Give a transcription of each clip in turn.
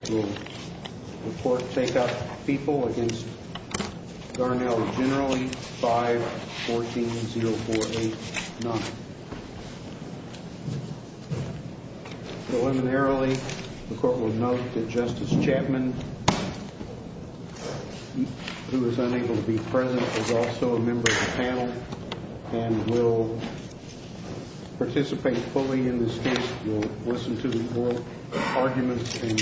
the court will take up people against Garnell generally 5, 14, 0489. Preliminarily, the court will note that Justice Chapman, who is unable to be present, is also a member of the panel and will participate fully in this case, will listen to the oral arguments and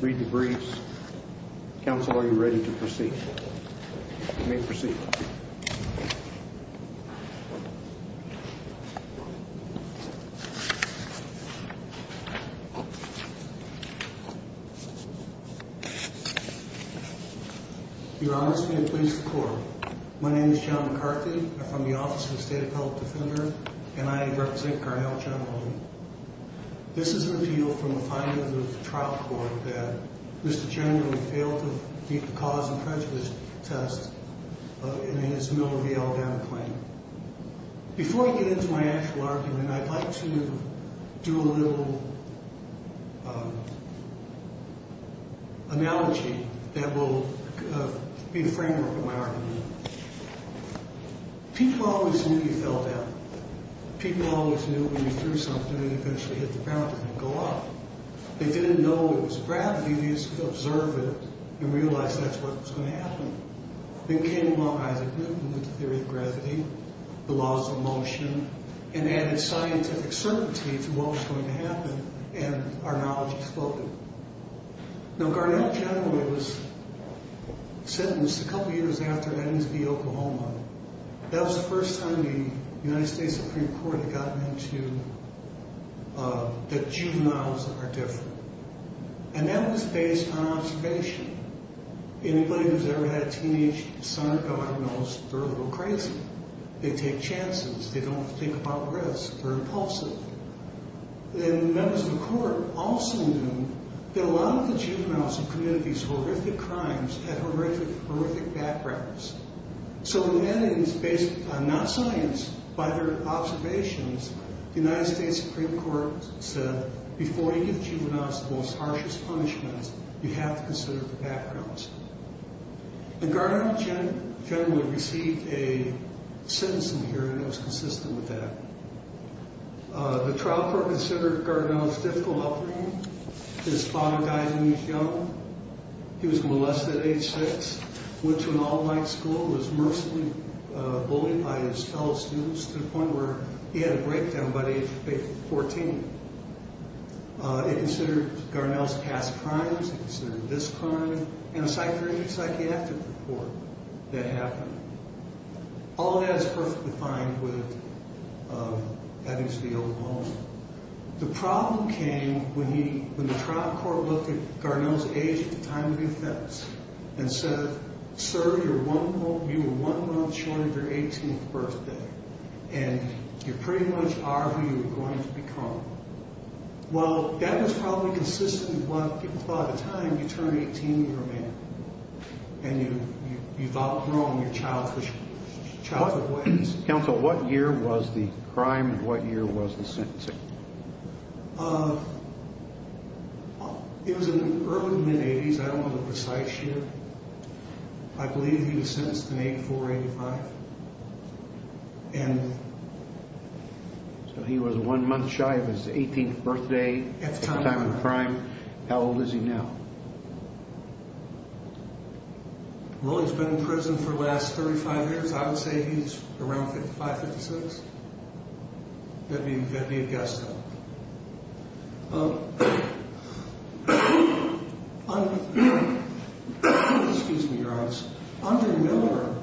read the briefs. Counsel, are you ready to proceed? You may proceed. Your Honor, stand and please record. My name is John McCarthy. I'm from the Office of the State Appellate Defender, and I represent Garnell generally. This is an appeal from the findings of the trial court that Mr. Garnell failed to beat the cause and prejudice test in his Miller v. Aldana claim. Before I get into my actual argument, I'd like to do a little analogy that will be a framework for my argument. People always knew he fell down. People always knew when you threw something it eventually hit the ground and didn't go up. They didn't know it was gravity. They just could observe it and realize that's what was going to happen. Then came along Isaac Newton with the theory of gravity, the laws of motion, and added scientific certainty to what was going to happen, and our knowledge exploded. Now, Garnell generally was sentenced a couple years after that MSB Oklahoma. That was the first time the United States Supreme Court had gotten into that juveniles are different, and that was based on observation. Anybody who's ever had a teenage son or daughter knows they're a little crazy. They take chances. They don't think about risk. They're impulsive. The members of the court also knew that a lot of the juveniles who committed these horrific crimes had horrific, horrific backgrounds. So the evidence based on not science, but their observations, the United States Supreme Court said before you give juveniles the most harshest punishments, you have to consider their backgrounds. Garnell generally received a sentence in here, and it was consistent with that. The trial court considered Garnell as a difficult upbringing. His father died when he was young. He was molested at age six, went to an all-night school, was mercilessly bullied by his fellow students to the point where he had a breakdown by the age of 14. It considered Garnell's past crimes, it considered this crime, and a psychiatric report that happened. All of that is perfectly fine with The problem came when the trial court looked at Garnell's age at the time of the offense and said, sir, you were one month short of your 18th birthday, and you pretty much are who you were going to become. Well, that was probably consistent with what people thought at the time. You turn 18, you're a man, and you've outgrown your childhood ways. Counsel, what year was the crime and what year was the sentencing? It was in the early to mid-eighties, I don't know the precise year. I believe he was sentenced in 84 or 85. So he was one month shy of his 18th birthday at the time of the crime. How old is he now? Well, he's been in prison for the last 35 years. I would say he's around 55, 56. That'd be a guess, though. Under Miller,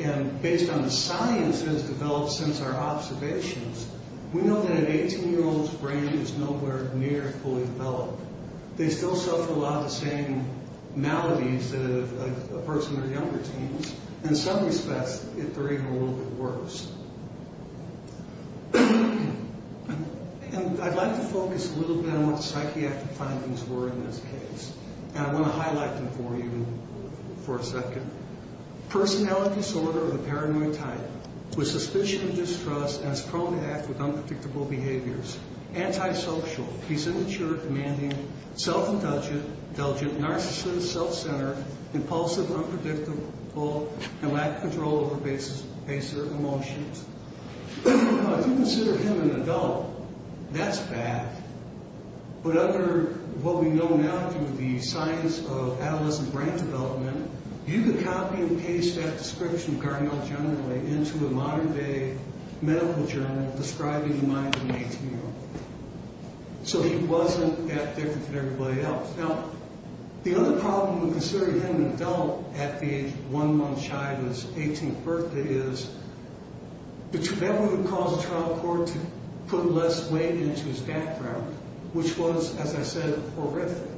and based on the science that has developed since our observations, we know that an 18-year-old's brain is nowhere near fully developed. They still suffer a lot of the same maladies that a person in their younger teens. In some respects, they're even a little bit worse. And I'd like to focus a little bit on what the psychiatric findings were in this case, and I want to highlight them for you for a second. Personality disorder of a paranoid type, with suspicion of distrust, and is prone to act with unpredictable behaviors. Antisocial, he's immature, demanding, self-indulgent, narcissistic, self-centered, impulsive, unpredictable, and lack control over basic emotions. Now, if you consider him an adult, that's bad. But under what we know now through the science of adolescent brain development, you could copy and paste that description, cardinal generally, into a modern-day medical journal describing the mind of an 18-year-old. So he wasn't that different from everybody else. Now, the other problem with considering him an adult at the age of one month shy of his 18th birthday is that would cause a trial court to put less weight into his background, which was, as I said, horrific.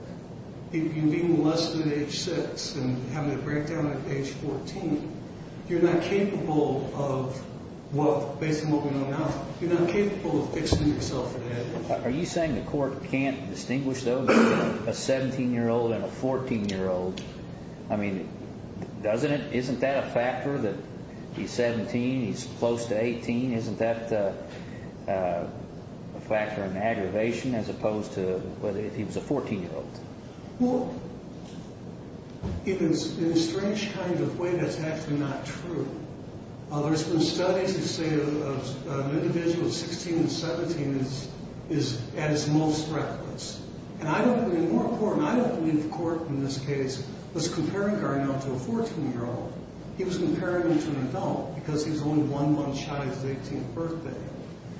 If you're being molested at age six and having a breakdown at age 14, you're not capable of, well, based on what we know now, you're not capable of fixing yourself for that. Are you saying the court can't distinguish, though, between a 17-year-old and a 14-year-old? I mean, doesn't it, isn't that a factor that he's 17, he's close to 18? Isn't that a factor in aggravation as opposed to whether he was a 14-year-old? Well, in a strange kind of way, that's actually not true. There's been studies that say an individual of 16 and 17 is at his most reckless. And I don't believe the court in this case was comparing Cardinal to a 14-year-old. He was comparing him to an adult because he was only one month shy of his 18th birthday.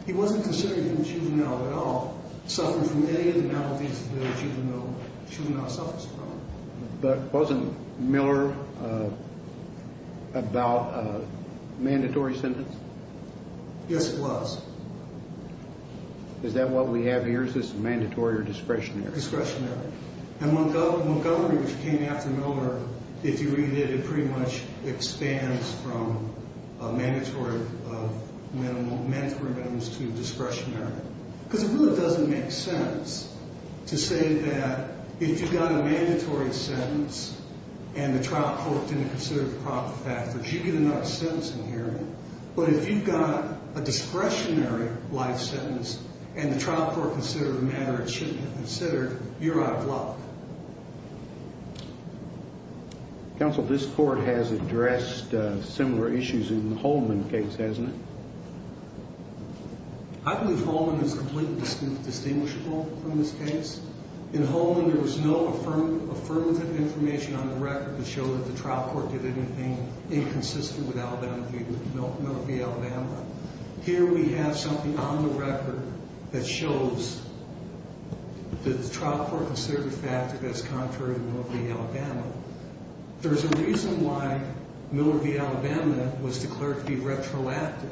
He wasn't considered a juvenile at all, suffering from any of the maladies that a juvenile suffers from. But wasn't Miller about a mandatory sentence? Yes, it was. Is that what we have here? Is this mandatory or discretionary? Discretionary. And Montgomery, which came after Miller, if you read it, it pretty much expands from mandatory minimums to discretionary. Because it really doesn't make sense to say that if you got a mandatory sentence and the trial court didn't consider the proper factors, you get another sentence in here. But if you got a discretionary life sentence and the trial court considered a matter it shouldn't have considered, you're out of luck. Counsel, this court has addressed similar issues in the Holman case, hasn't it? I believe Holman is completely distinguishable from this case. In Holman there was no affirmative information on the record to show that the trial court did anything inconsistent with Alabama v. Miller v. Alabama. Here we have something on the record that shows that the trial court considered a factor that's contrary to Miller v. Alabama. There's a reason why Miller v. Alabama was declared to be retroactive.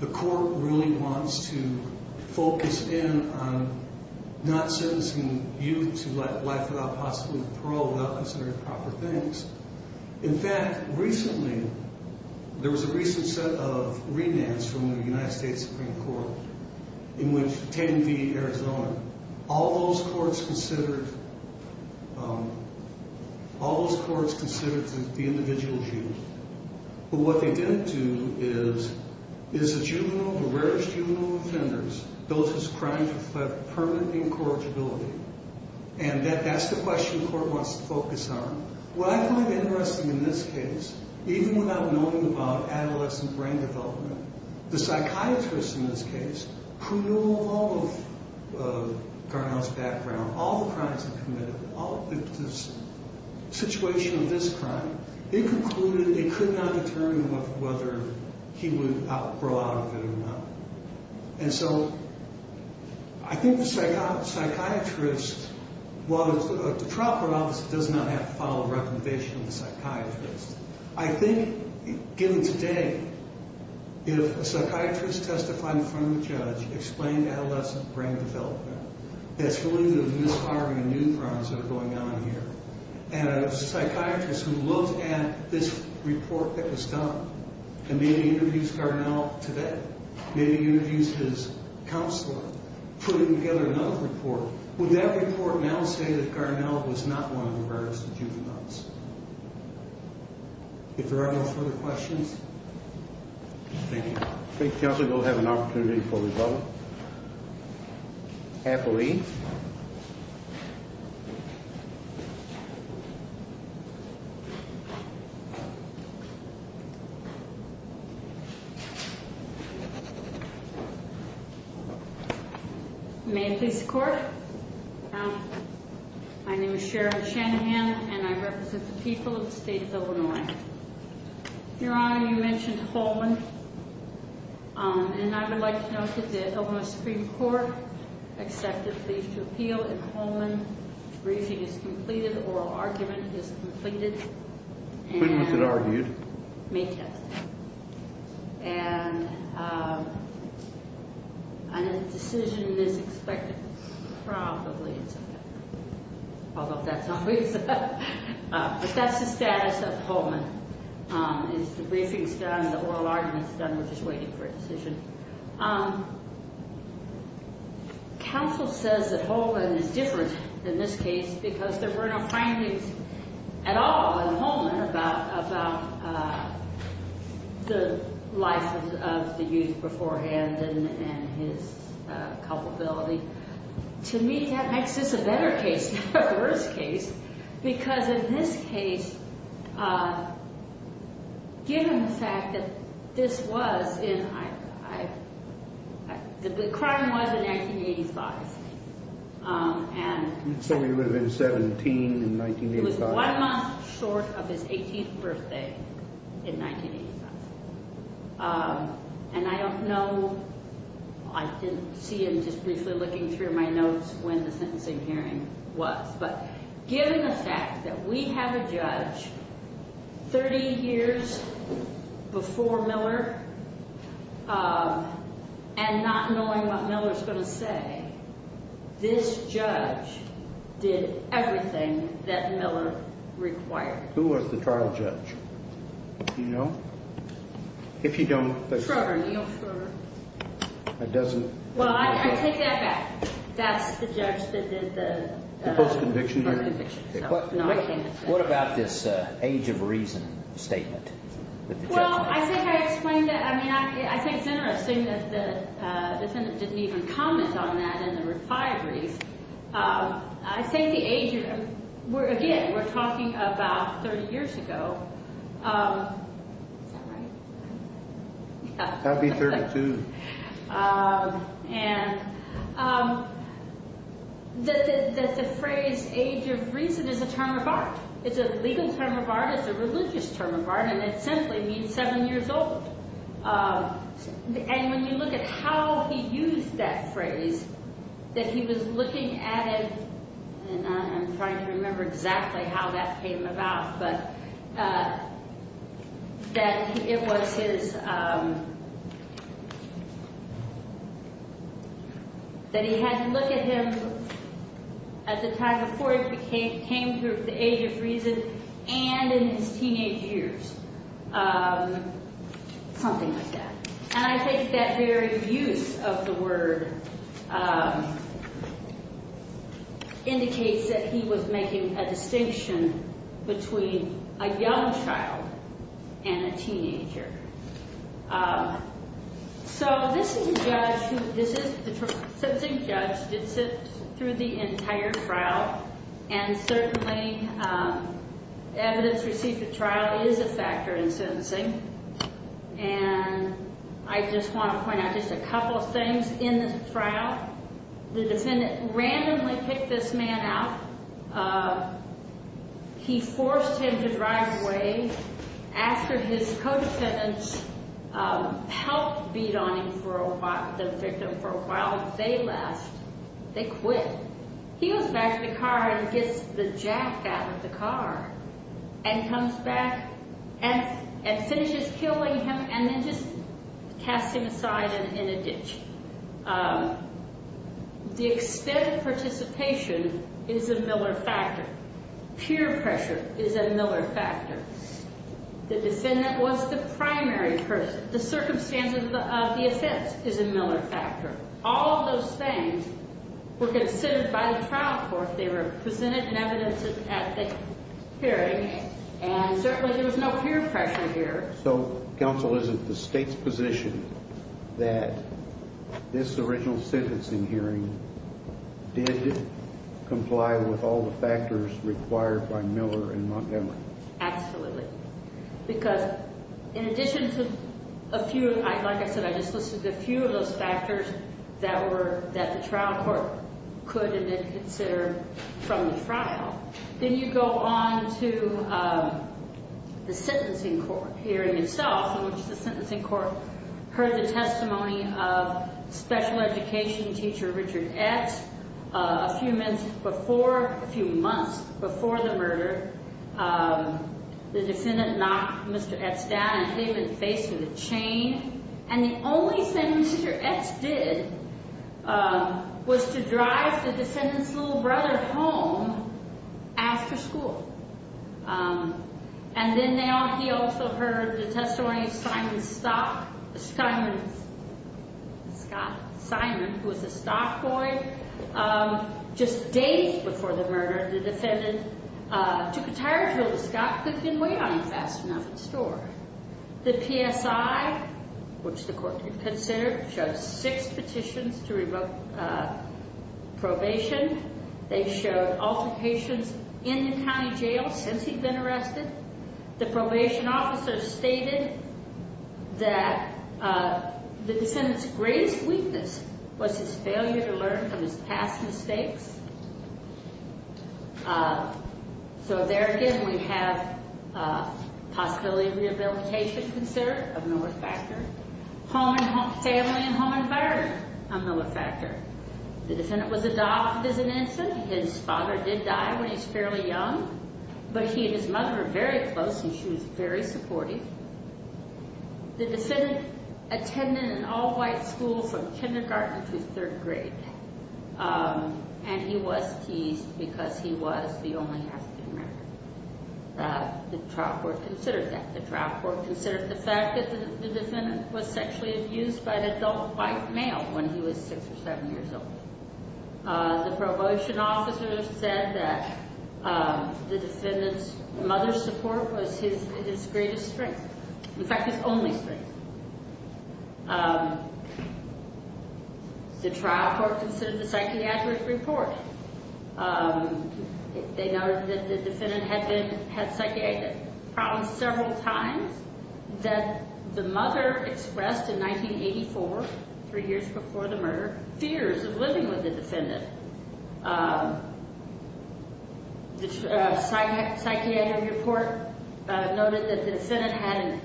The court really wants to focus in on not sentencing youth to life without possibly parole without considering proper things. In fact, recently there was a recent set of remands from the United States Supreme Court in which Tatum v. Arizona, all those courts considered the individual youth. But what they didn't do is the rarest juvenile offenders, those whose crimes reflect permanent incorrigibility. And that's the question the court wants to focus on. What I find interesting in this case, even without knowing about adolescent brain development, the psychiatrist in this case, who knew all of Garneau's background, all the crimes he committed, the situation of this crime, they concluded they could not determine whether he would grow out of it or not. And so I think the psychiatrist, while the trial court officer does not have to follow recommendation of the psychiatrist, I think given today, if a psychiatrist testified in front of a judge, explained adolescent brain development, that's really the miscarrying of new crimes that are going on here. And a psychiatrist who looked at this report that was done and maybe interviews Garneau today, maybe interviews his counselor, putting together another report, would that report now say that Garneau was not one of the rarest juveniles? If there are no further questions, thank you. Thank you, Counselor. We'll have an opportunity for rebuttal. Appellee. May it please the Court. My name is Sharon Shanahan, and I represent the people of the state of Illinois. Your Honor, you mentioned Holman. And I would like to note that the Illinois Supreme Court accepted the plea to appeal in Holman. Briefing is completed. Oral argument is completed. When was it argued? May 10th. And a decision is expected probably in September. Although that's always up. But that's the status of Holman. The briefing is done, the oral argument is done, we're just waiting for a decision. Counsel says that Holman is different in this case because there were no findings at all in Holman about the life of the youth beforehand and his culpability. To me, that makes this a better case, not a worse case. Because in this case, given the fact that this was in, the crime was in 1985. So he would have been 17 in 1985. It was one month short of his 18th birthday in 1985. And I don't know, I didn't see him just briefly looking through my notes when the sentencing hearing was. But given the fact that we have a judge 30 years before Miller, and not knowing what Miller's going to say, this judge did everything that Miller required. Who was the trial judge? Do you know? If you don't. Schroeder, Neal Schroeder. It doesn't. Well, I take that back. That's the judge that did the. Post-conviction hearing? Post-conviction. What about this age of reason statement? Well, I think I explained that. I mean, I think it's interesting that the defendant didn't even comment on that in the refineries. I think the age, again, we're talking about 30 years ago. Is that right? That'd be 32. And that the phrase age of reason is a term of art. It's a legal term of art. It's a religious term of art. And it simply means seven years old. And when you look at how he used that phrase, that he was looking at it, and I'm trying to remember exactly how that came about, but that it was his, that he had to look at him at the time before he came through the age of reason and in his teenage years. Something like that. And I think that very use of the word indicates that he was making a distinction between a young child and a teenager. So this is the judge who, this is the sentencing judge that sits through the entire trial. And certainly, evidence received at trial is a factor in sentencing. And I just want to point out just a couple of things in this trial. The defendant randomly picked this man out. He forced him to drive away after his co-defendants helped beat on him for a while, the victim, for a while. They left. They quit. He goes back to the car and gets the jack out of the car and comes back and finishes killing him and then just casts him aside in a ditch. The extent of participation is a Miller factor. Peer pressure is a Miller factor. The defendant was the primary person. The circumstance of the offense is a Miller factor. All of those things were considered by the trial court. They were presented in evidence at the hearing, and certainly there was no peer pressure here. So counsel, is it the state's position that this original sentencing hearing did comply with all the factors required by Miller and Montgomery? Absolutely. Because in addition to a few, like I said, I just listed a few of those factors that the trial court could have considered from the trial. Then you go on to the sentencing court hearing itself, in which the sentencing court heard the testimony of special education teacher Richard Etz. A few months before the murder, the defendant knocked Mr. Etz down and hit him in the face with a chain. And the only thing Mr. Etz did was to drive the defendant's little brother home after school. And then he also heard the testimony of Simon Scott, Simon, who was a stock boy. Just days before the murder, the defendant took a tire tool that Scott picked and weighed on fast enough at the store. The PSI, which the court considered, showed six petitions to revoke probation. They showed altercations in the county jail since he'd been arrested. The probation officer stated that the defendant's greatest weakness was his failure to learn from his past mistakes. So there again, we have possibility of rehabilitation considered, a Miller factor. Family and home environment, a Miller factor. The defendant was adopted as an infant. His father did die when he was fairly young. But he and his mother were very close, and she was very supportive. The defendant attended an all-white school from kindergarten through third grade. And he was teased because he was the only African American. The trial court considered that. The trial court considered the fact that the defendant was sexually abused by an adult white male when he was six or seven years old. The probation officer said that the defendant's mother's support was his greatest strength. In fact, his only strength. The trial court considered the psychiatric report. They noted that the defendant had been, had psychiatric problems several times, that the mother expressed in 1984, three years before the murder, fears of living with the defendant. The psychiatric report noted that the defendant had an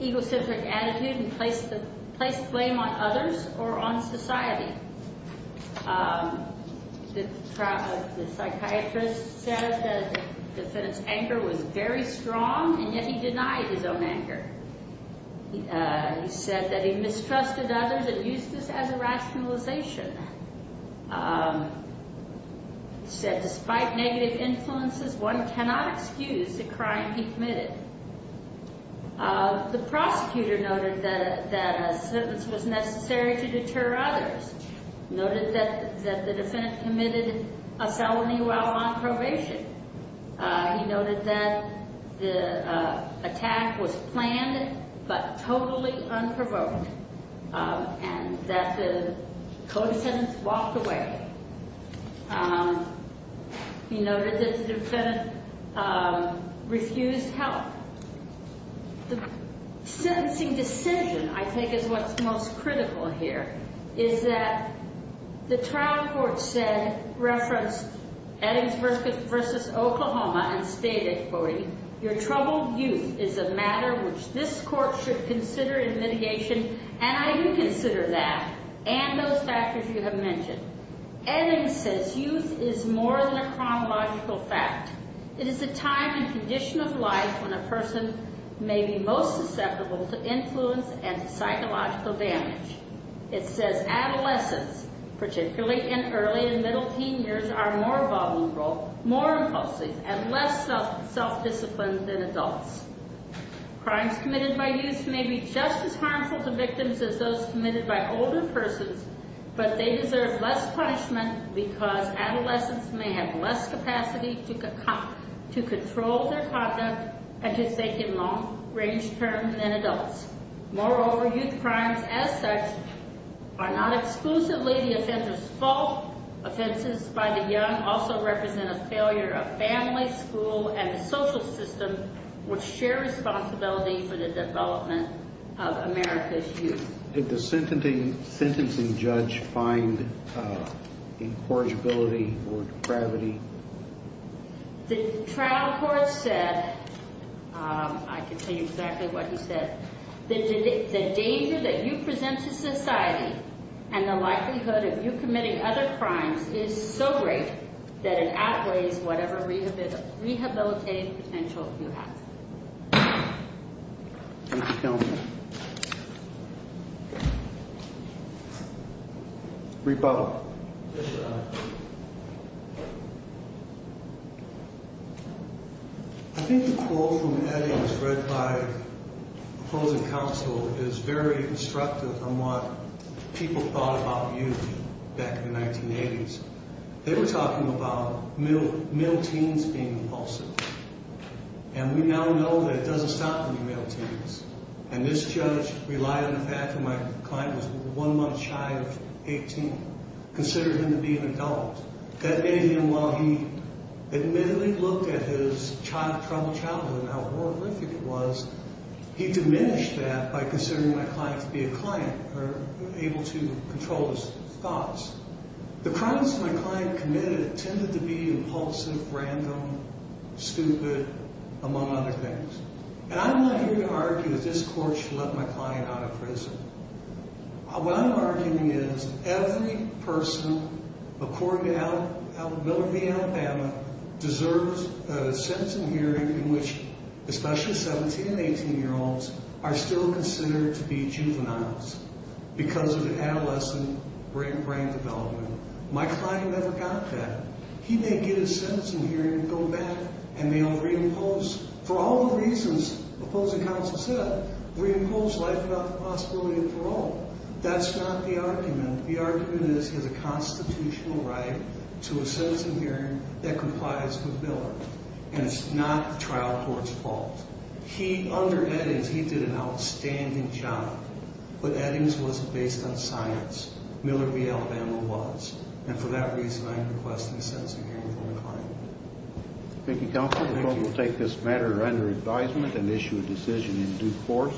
egocentric attitude and placed blame on others or on society. The psychiatrist said that the defendant's anger was very strong, and yet he denied his own anger. He said that he mistrusted others and used this as a rationalization. He said despite negative influences, one cannot excuse the crime he committed. The prosecutor noted that a sentence was necessary to deter others. He noted that the defendant committed a felony while on probation. He noted that the attack was planned but totally unprovoked. And that the co-descendants walked away. He noted that the defendant refused help. The sentencing decision, I think, is what's most critical here, is that the trial court said, referenced Eddings v. Oklahoma and stated, your troubled youth is a matter which this court should consider in mitigation, and I do consider that and those factors you have mentioned. Eddings says youth is more than a chronological fact. It is a time and condition of life when a person may be most susceptible to influence and psychological damage. It says adolescents, particularly in early and middle teen years, are more vulnerable, more impulsive, and less self-disciplined than adults. Crimes committed by youth may be just as harmful to victims as those committed by older persons, but they deserve less punishment because adolescents may have less capacity to control their conduct and to think in long-range terms than adults. Moreover, youth crimes as such are not exclusively the offender's fault. Offenses by the young also represent a failure of family, school, and the social system which share responsibility for the development of America's youth. Did the sentencing judge find incorrigibility or depravity? The trial court said, I can tell you exactly what he said, the danger that you present to society and the likelihood of you committing other crimes is so great that it outweighs whatever rehabilitative potential you have. Rebuttal. I think the quote from Eddings, read by opposing counsel, is very instructive on what people thought about youth back in the 1980s. They were talking about male teens being impulsive. And we now know that it doesn't stop with the male teens. And this judge relied on the fact that my client was one month shy of 18, considered him to be an adult. That made him, while he admittedly looked at his troubled childhood and how horrific it was, he diminished that by considering my client to be a client or able to control his thoughts. The crimes my client committed tended to be impulsive, random, stupid, among other things. And I'm not here to argue that this court should let my client out of prison. What I'm arguing is every person according to Miller v. Alabama deserves a sentencing hearing in which, especially 17 and 18-year-olds, are still considered to be juveniles because of an adolescent brain development. My client never got that. He may get his sentencing hearing, go back, and may reimpose, for all the reasons opposing counsel said, reimpose life without the possibility of parole. That's not the argument. The argument is he has a constitutional right to a sentencing hearing that complies with Miller. And it's not trial court's fault. He, under Eddings, he did an outstanding job. But Eddings wasn't based on science. Miller v. Alabama was. And for that reason, I'm requesting a sentencing hearing for my client. Thank you, counsel. The court will take this matter under advisement and issue a decision in due course.